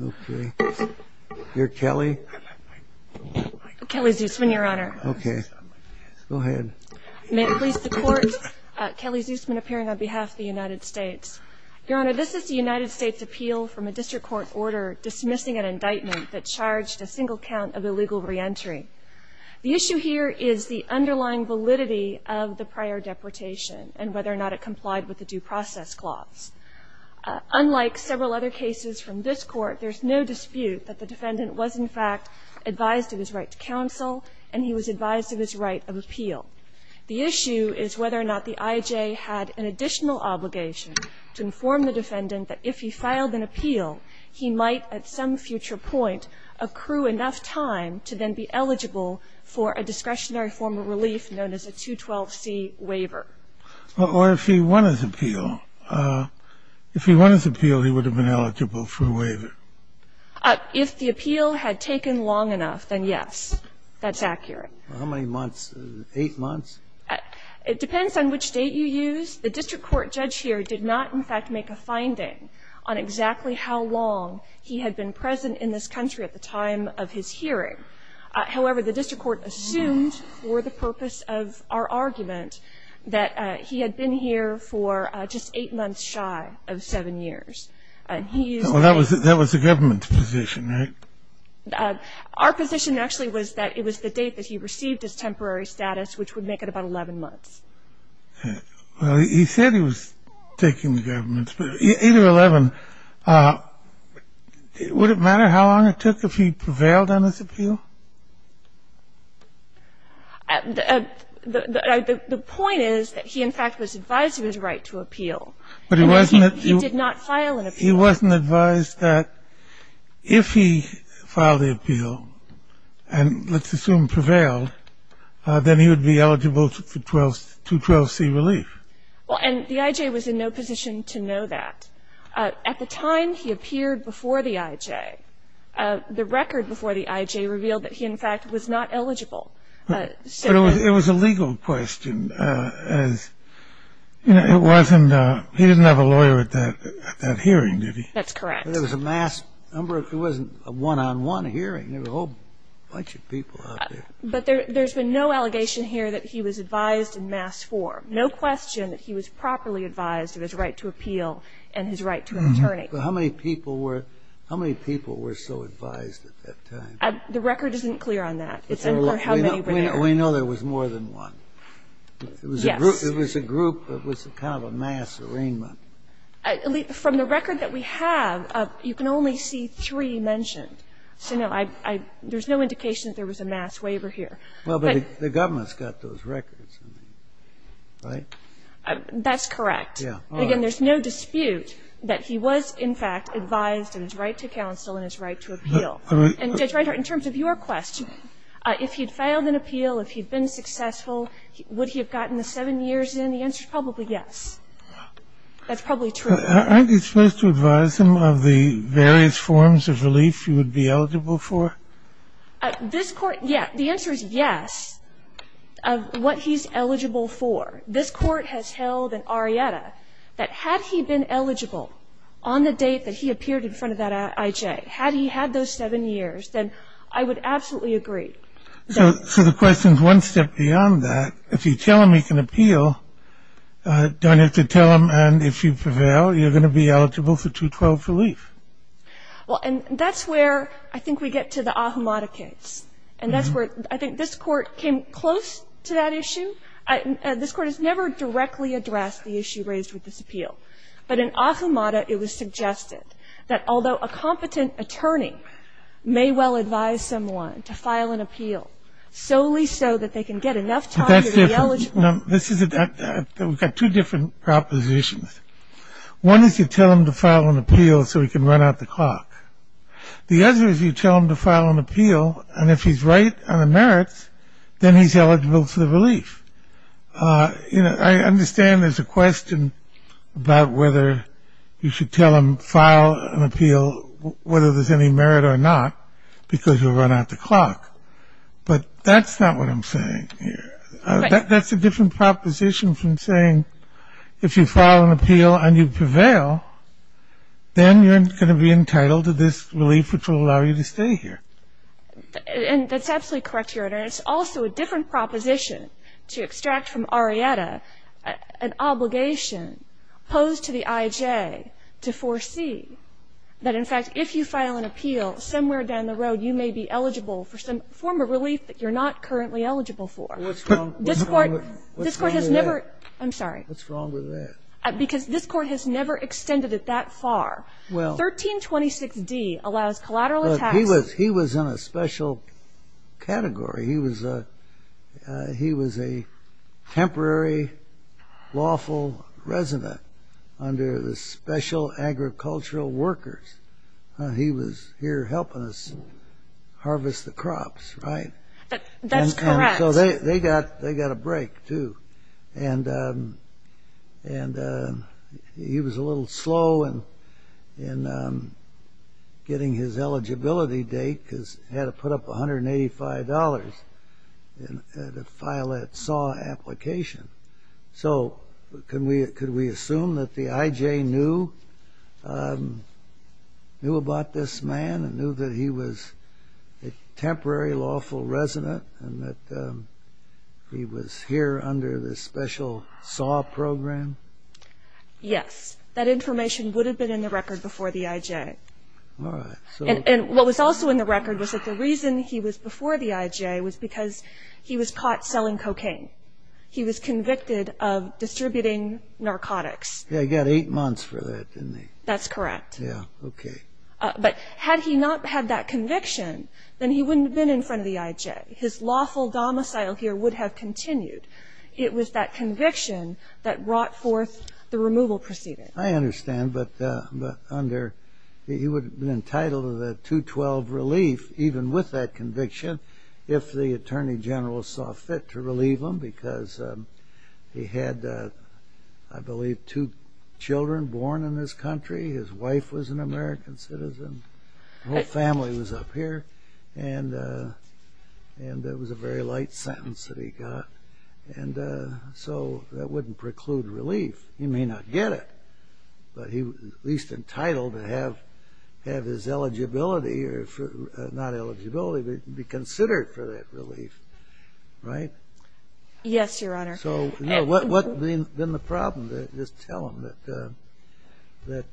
Okay. Your Kelly? Kelly Zusman, Your Honor. Okay. Go ahead. May it please the Court, Kelly Zusman appearing on behalf of the United States. Your Honor, this is the United States appeal from a district court order dismissing an indictment that charged a single count of illegal reentry. The issue here is the underlying validity of the prior deportation and whether or not it complied with the due process clause. Unlike several other cases from this Court, there's no dispute that the defendant was, in fact, advised of his right to counsel and he was advised of his right of appeal. The issue is whether or not the I.J. had an additional obligation to inform the defendant that if he filed an appeal, he might, at some future point, accrue enough time to then be eligible for a discretionary form of relief known as a 212C waiver. Or if he won his appeal. If he won his appeal, he would have been eligible for a waiver. If the appeal had taken long enough, then yes, that's accurate. How many months? Eight months? It depends on which date you use. The district court judge here did not, in fact, make a finding on exactly how long he had been present in this country at the time of his hearing. However, the district court assumed, for the purpose of our argument, that he had been here for just eight months shy of seven years. And he used the... Well, that was the government's position, right? Our position actually was that it was the date that he received his temporary status, which would make it about 11 months. Well, he said he was taking the government's position. Either 11, would it matter how long it took if he prevailed on his appeal? The point is that he, in fact, was advised he was right to appeal. But he wasn't... He did not file an appeal. He wasn't advised that if he filed the appeal and, let's assume, prevailed, then he would be eligible for 212C relief. Well, and the I.J. was in no position to know that. At the time he appeared before the I.J., the record before the I.J. revealed that he, in fact, was not eligible. But it was a legal question, as it wasn't a... He didn't have a lawyer at that hearing, did he? That's correct. There was a mass number. It wasn't a one-on-one hearing. There were a whole bunch of people out there. But there's been no allegation here that he was advised in mass form. No question that he was properly advised of his right to appeal and his right to attorney. But how many people were so advised at that time? The record isn't clear on that. It's unclear how many were there. We know there was more than one. Yes. It was a group. It was kind of a mass arraignment. From the record that we have, you can only see three mentioned. So, no, there's no indication that there was a mass waiver here. Well, but the government's got those records. Right? That's correct. Again, there's no dispute that he was, in fact, advised of his right to counsel and his right to appeal. And, Judge Reinhart, in terms of your question, if he'd failed an appeal, if he'd been successful, would he have gotten the seven years in? The answer is probably yes. That's probably true. Aren't you supposed to advise him of the various forms of relief he would be eligible for? This court, yeah, the answer is yes of what he's eligible for. This court has held in Arietta that had he been eligible on the date that he appeared in front of that IJ, had he had those seven years, then I would absolutely agree. So the question's one step beyond that. If you tell him he can appeal, don't you have to tell him, and if you prevail, you're going to be eligible for 212 relief? Well, and that's where I think we get to the Ahumada case. And that's where I think this Court came close to that issue. This Court has never directly addressed the issue raised with this appeal. But in Ahumada, it was suggested that although a competent attorney may well advise someone to file an appeal solely so that they can get enough time to be eligible. But that's different. We've got two different propositions. One is you tell him to file an appeal so he can run out the clock. The other is you tell him to file an appeal, and if he's right on the merits, then he's eligible for the relief. You know, I understand there's a question about whether you should tell him file an appeal, whether there's any merit or not, because you'll run out the clock. But that's not what I'm saying here. That's a different proposition from saying if you file an appeal and you prevail, then you're going to be entitled to this relief, which will allow you to stay here. And that's absolutely correct, Your Honor. It's also a different proposition to extract from Arrieta an obligation posed to the IJ to foresee that, in fact, if you file an appeal, somewhere down the road you may be eligible for some form of relief that you're not currently eligible for. What's wrong with that? I'm sorry. What's wrong with that? Because this Court has never extended it that far. 1326D allows collateral attacks. He was in a special category. He was a temporary lawful resident under the Special Agricultural Workers. He was here helping us harvest the crops, right? That's correct. So they got a break, too. And he was a little slow in getting his eligibility date because he had to put up $185 to file that SAW application. So could we assume that the IJ knew about this man and knew that he was a temporary lawful resident and that he was here under the special SAW program? Yes. That information would have been in the record before the IJ. All right. And what was also in the record was that the reason he was before the IJ was because he was caught selling cocaine. He was convicted of distributing narcotics. Yeah, he got eight months for that, didn't he? That's correct. Yeah, okay. But had he not had that conviction, then he wouldn't have been in front of the IJ. His lawful domicile here would have continued. It was that conviction that brought forth the removal proceeding. I understand, but he would have been entitled to the 212 relief, even with that conviction, if the Attorney General saw fit to relieve him because he had, I believe, two children born in this country. His wife was an American citizen. The whole family was up here, and it was a very light sentence that he got. And so that wouldn't preclude relief. He may not get it, but he was at least entitled to have his eligibility, or not eligibility, but be considered for that relief, right? Yes, Your Honor. So, you know, what would have been the problem? Just tell him that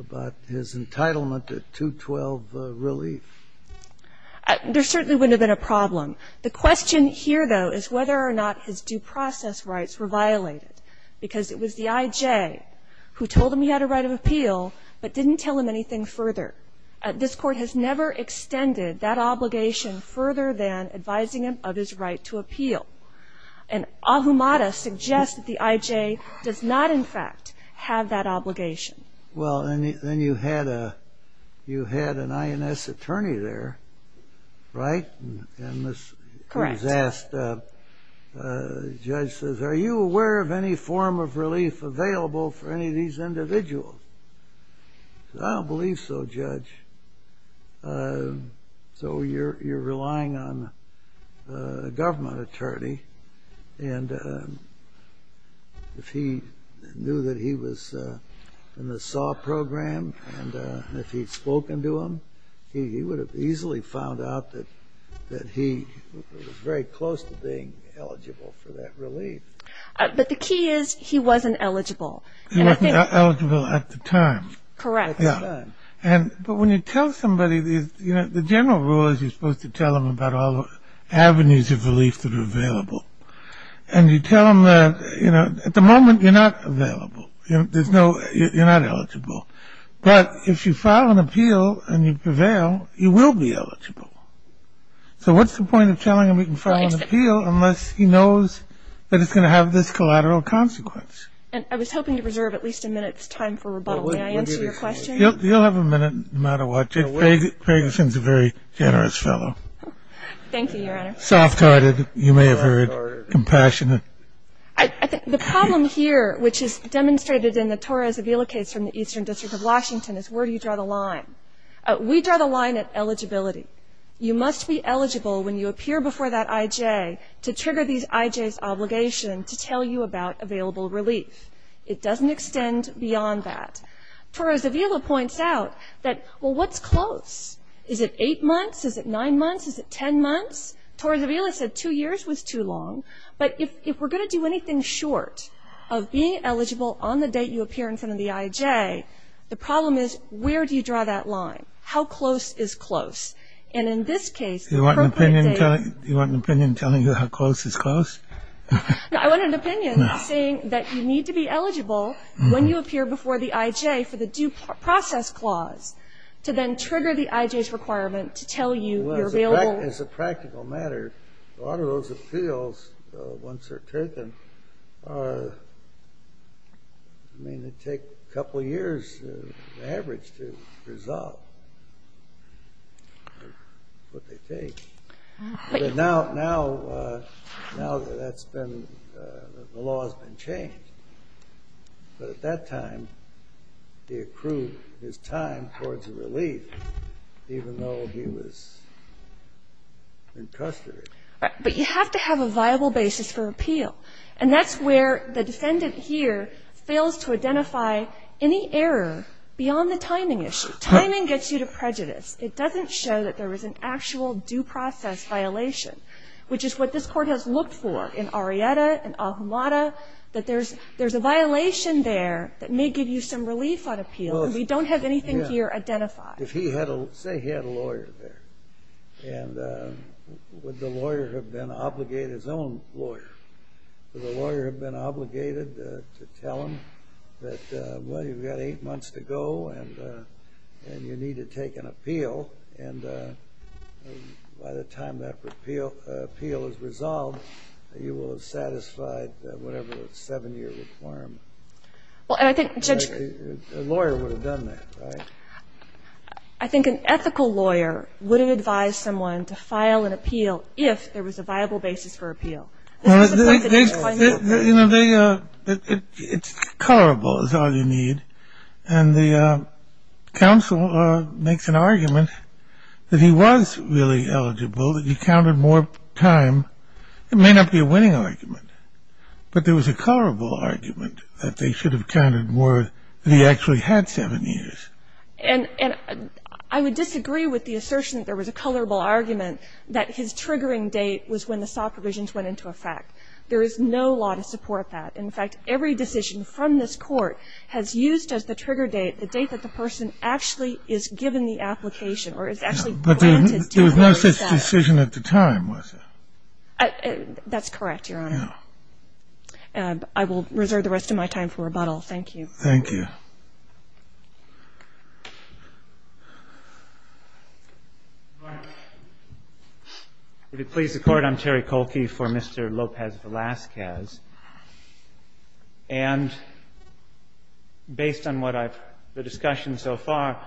about his entitlement to 212 relief. There certainly wouldn't have been a problem. The question here, though, is whether or not his due process rights were violated because it was the IJ who told him he had a right of appeal but didn't tell him anything further. This Court has never extended that obligation further than advising him of his right to appeal. And Ahumada suggests that the IJ does not, in fact, have that obligation. Well, then you had an INS attorney there, right? Correct. And he was asked, the judge says, are you aware of any form of relief available for any of these individuals? He says, I don't believe so, Judge. So you're relying on a government attorney. And if he knew that he was in the SAW program and if he'd spoken to him, he would have easily found out that he was very close to being eligible for that relief. But the key is he wasn't eligible. He wasn't eligible at the time. Correct. But when you tell somebody, you know, the general rule is you're supposed to tell them about all the avenues of relief that are available. And you tell them that, you know, at the moment you're not available. You're not eligible. But if you file an appeal and you prevail, you will be eligible. So what's the point of telling him he can file an appeal unless he knows that it's going to have this collateral consequence? And I was hoping to reserve at least a minute's time for rebuttal. May I answer your question? You'll have a minute no matter what. Gregson's a very generous fellow. Thank you, Your Honor. Soft-hearted, you may have heard, compassionate. The problem here, which is demonstrated in the Torres Avila case from the Eastern District of Washington, is where do you draw the line? We draw the line at eligibility. You must be eligible when you appear before that I.J. to trigger these I.J.'s obligation to tell you about available relief. It doesn't extend beyond that. Torres Avila points out that, well, what's close? Is it eight months? Is it nine months? Is it ten months? Torres Avila said two years was too long. But if we're going to do anything short of being eligible on the date you appear in front of the I.J., the problem is where do you draw that line? How close is close? Do you want an opinion telling you how close is close? No, I want an opinion saying that you need to be eligible when you appear before the I.J. for the due process clause to then trigger the I.J.'s requirement to tell you you're available. Well, as a practical matter, a lot of those appeals, once they're taken, I mean, they take a couple years on average to resolve what they take. But now that's been the law has been changed. But at that time, he accrued his time towards the relief, even though he was in custody. But you have to have a viable basis for appeal. And that's where the defendant here fails to identify any error beyond the timing issue. Timing gets you to prejudice. It doesn't show that there was an actual due process violation, which is what this Court has looked for in Arrieta and Ahumada, that there's a violation there that may give you some relief on appeal. We don't have anything here identified. Say he had a lawyer there. And would the lawyer have been obligated, his own lawyer, would the lawyer have been obligated to tell him that, well, you've got eight months to go and you need to take an appeal, and by the time that appeal is resolved, you will have satisfied whatever the seven-year requirement. A lawyer would have done that, right? I think an ethical lawyer wouldn't advise someone to file an appeal if there was a viable basis for appeal. It's colorable is all you need. And the counsel makes an argument that he was really eligible, that he counted more time. It may not be a winning argument. But there was a colorable argument that they should have counted more that he actually had seven years. And I would disagree with the assertion that there was a colorable argument that his triggering date was when the SAW provisions went into effect. There is no law to support that. In fact, every decision from this Court has used as the trigger date the date that the person actually is given the application or is actually granted due process. But there was no such decision at the time, was there? That's correct, Your Honor. And I will reserve the rest of my time for rebuttal. Thank you. Thank you. All right. If it pleases the Court, I'm Terry Kolke for Mr. Lopez Velazquez. And based on what I've the discussion so far,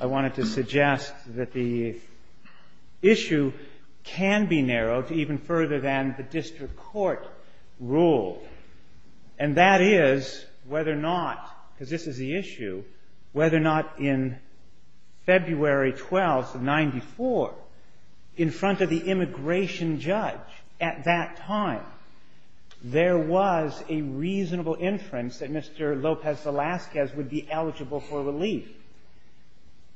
I wanted to suggest that the issue can be narrowed even further than the district court rule. And that is whether or not, because this is the issue, whether or not in February 12, 1994, in front of the immigration judge at that time, there was a reasonable inference that Mr. Lopez Velazquez would be eligible for relief.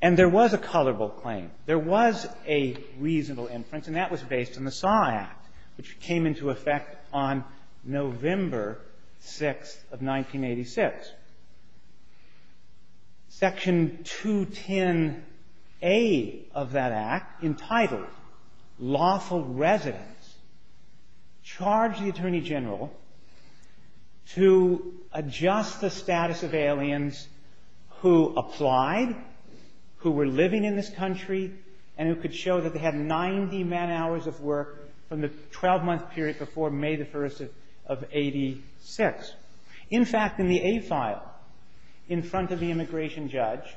And there was a colorable claim. There was a reasonable inference, and that was based on the SAW Act, which came into effect on November 6 of 1986. Section 210A of that Act entitled, Lawful Residents, charged the Attorney General to adjust the status of aliens who applied, who were living in this country, and who could show that they had 90 man-hours of work from the 12-month period before May the 1st of 86. In fact, in the A file, in front of the immigration judge,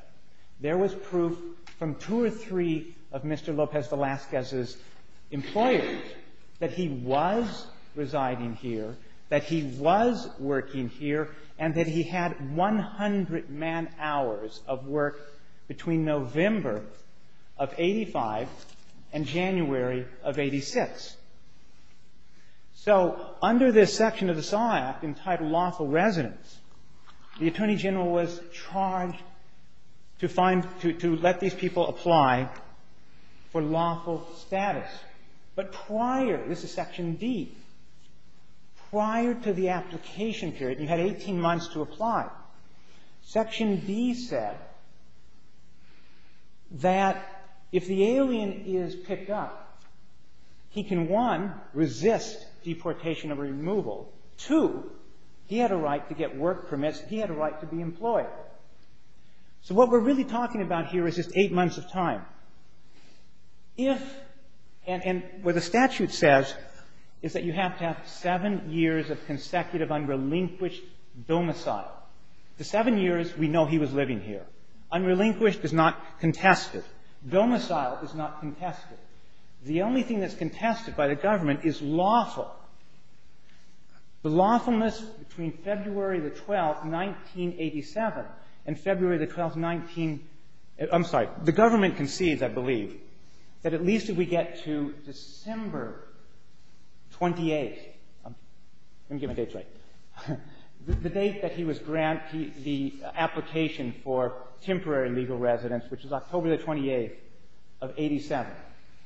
there was proof from two or three of working here, and that he had 100 man-hours of work between November of 85 and January of 86. So under this section of the SAW Act entitled Lawful Residents, the Attorney General was charged to let these people apply for lawful status. But prior, this is Section D, prior to the application period, you had 18 months to apply. Section D said that if the alien is picked up, he can, one, resist deportation or removal. Two, he had a right to get work permits. He had a right to be employed. So what we're really talking about here is just eight months of time. If, and what the statute says is that you have to have seven years of consecutive unrelinquished domicile. The seven years, we know he was living here. Unrelinquished is not contested. Domicile is not contested. The only thing that's contested by the government is lawful. The lawfulness between February the 12th, 1987, and February the 12th, 19 — I'm sorry. The government concedes, I believe, that at least if we get to December 28th — let me get my dates right — the date that he was granted the application for temporary legal residence, which is October the 28th of 1987.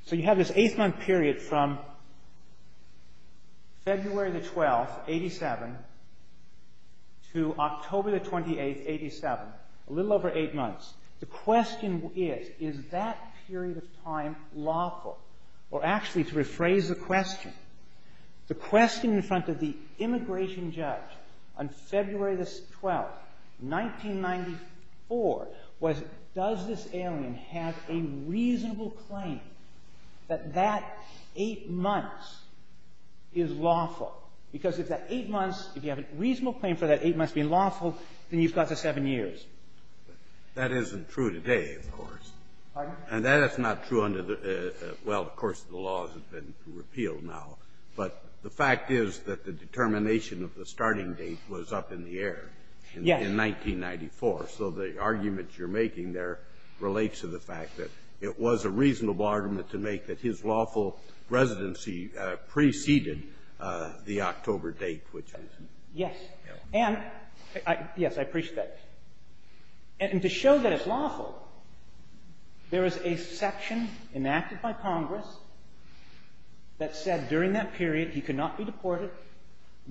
So you have this eight-month period from February the 12th, 1987, to October the 28th, 1987, a little over eight months. The question is, is that period of time lawful? Or actually, to rephrase the question, the question in front of the immigration judge on February the 12th, 1994, was, does this alien have a reasonable claim that that eight months is lawful? Because if that eight months — if you have a reasonable claim for that eight months being lawful, then you've got the seven years. That isn't true today, of course. Pardon? That is not true under the — well, of course, the law has been repealed now. But the fact is that the determination of the starting date was up in the air in 1994. So the argument you're making there relates to the fact that it was a reasonable argument to make that his lawful residency preceded the October date, which was — Yes. And — yes, I appreciate that. And to show that it's lawful, there is a section enacted by Congress that said during that period he could not be deported,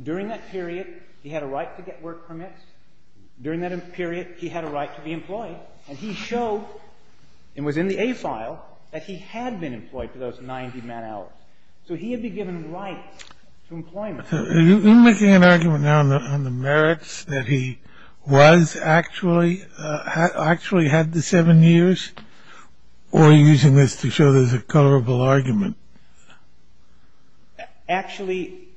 during that period he had a right to get work permits, during that period he had a right to be employed. And he showed, and was in the A file, that he had been employed for those 90-man hours. So he had been given rights to employment. So are you making an argument now on the merits that he was actually — actually had the seven years? Or are you using this to show there's a colorable argument? Actually,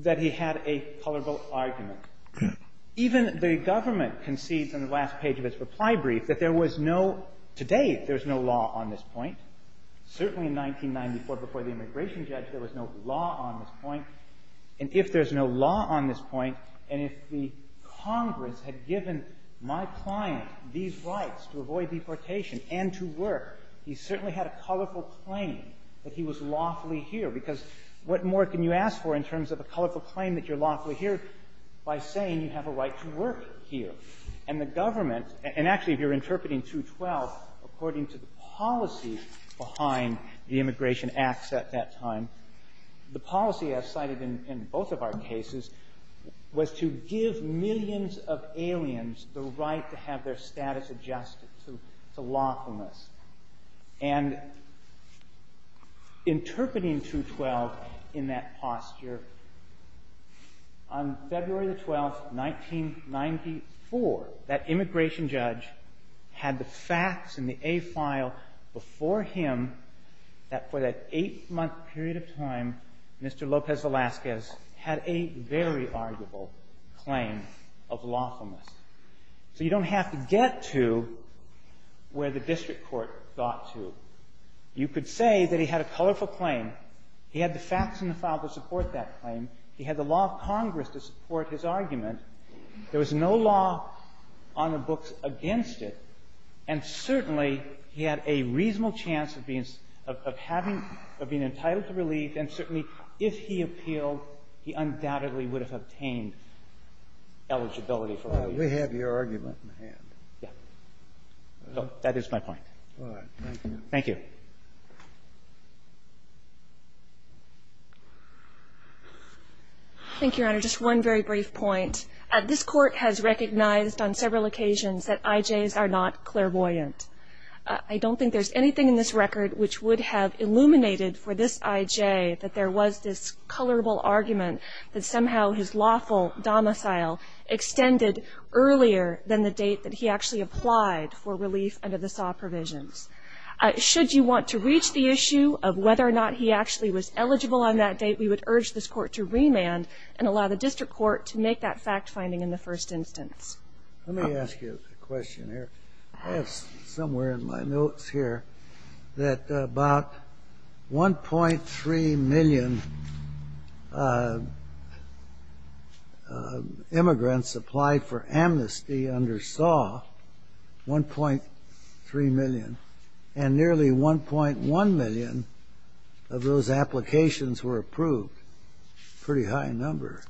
that he had a colorable argument. Okay. Even the government concedes in the last page of its reply brief that there was no — today, there's no law on this point. Certainly in 1994, before the immigration judge, there was no law on this point. And if there's no law on this point, and if the Congress had given my client these rights to avoid deportation and to work, he certainly had a colorful claim that he was lawfully here, because what more can you ask for in terms of a colorful claim that you're lawfully here by saying you have a right to work here? And the government — and actually, if you're interpreting 212, according to the policy behind the Immigration Acts at that time, the policy, as cited in both of our cases, was to give millions of aliens the right to have their status adjusted to lawfulness. And interpreting 212 in that posture, on February the 12th, 1994, that immigration judge had the facts in the A file before him that, for that eight-month period of time, Mr. Lopez Velazquez had a very arguable claim of lawfulness. So you don't have to get to where the district court got to. You could say that he had a colorful claim. He had the facts in the file to support that claim. He had the law of Congress to support his argument. There was no law on the books against it. And certainly, he had a reasonable chance of being — of having — of being entitled to relief. And certainly, if he appealed, he undoubtedly would have obtained eligibility for relief. We have your argument in hand. Yeah. So that is my point. All right. Thank you. Thank you. Thank you, Your Honor. Just one very brief point. This Court has recognized on several occasions that IJs are not clairvoyant. I don't think there's anything in this record which would have illuminated for this IJ that there was this colorable argument that somehow his lawful domicile extended earlier than the date that he actually applied for relief under the SAW provisions. Should you want to reach the issue of whether or not he actually was eligible on that date, we would urge this Court to remand and allow the district court to make that fact-finding in the first instance. Let me ask you a question here. I have somewhere in my notes here that about 1.3 million immigrants applied for amnesty under SAW, 1.3 million, and nearly 1.1 million of those applications were approved. Pretty high number.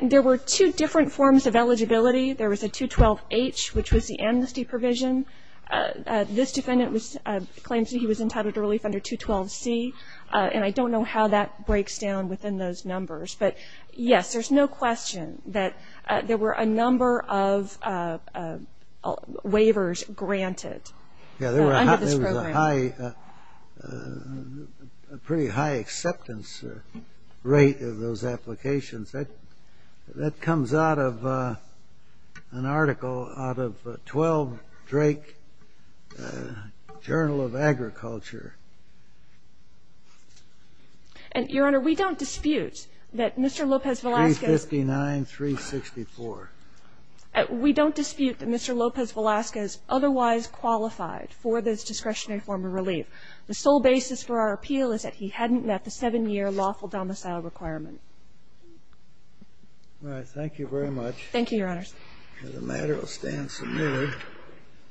There were two different forms of eligibility. There was a 212H, which was the amnesty provision. This defendant claims that he was entitled to relief under 212C, and I don't know how that breaks down within those numbers. But, yes, there's no question that there were a number of waivers granted under this program. Yeah, there was a pretty high acceptance rate of those applications. That comes out of an article out of 12 Drake Journal of Agriculture. And, Your Honor, we don't dispute that Mr. Lopez-Velasquez. 359-364. We don't dispute that Mr. Lopez-Velasquez otherwise qualified for this discretionary form of relief. The sole basis for our appeal is that he hadn't met the 7-year lawful domicile requirement. All right. Thank you very much. Thank you, Your Honors. The matter will stand submitted.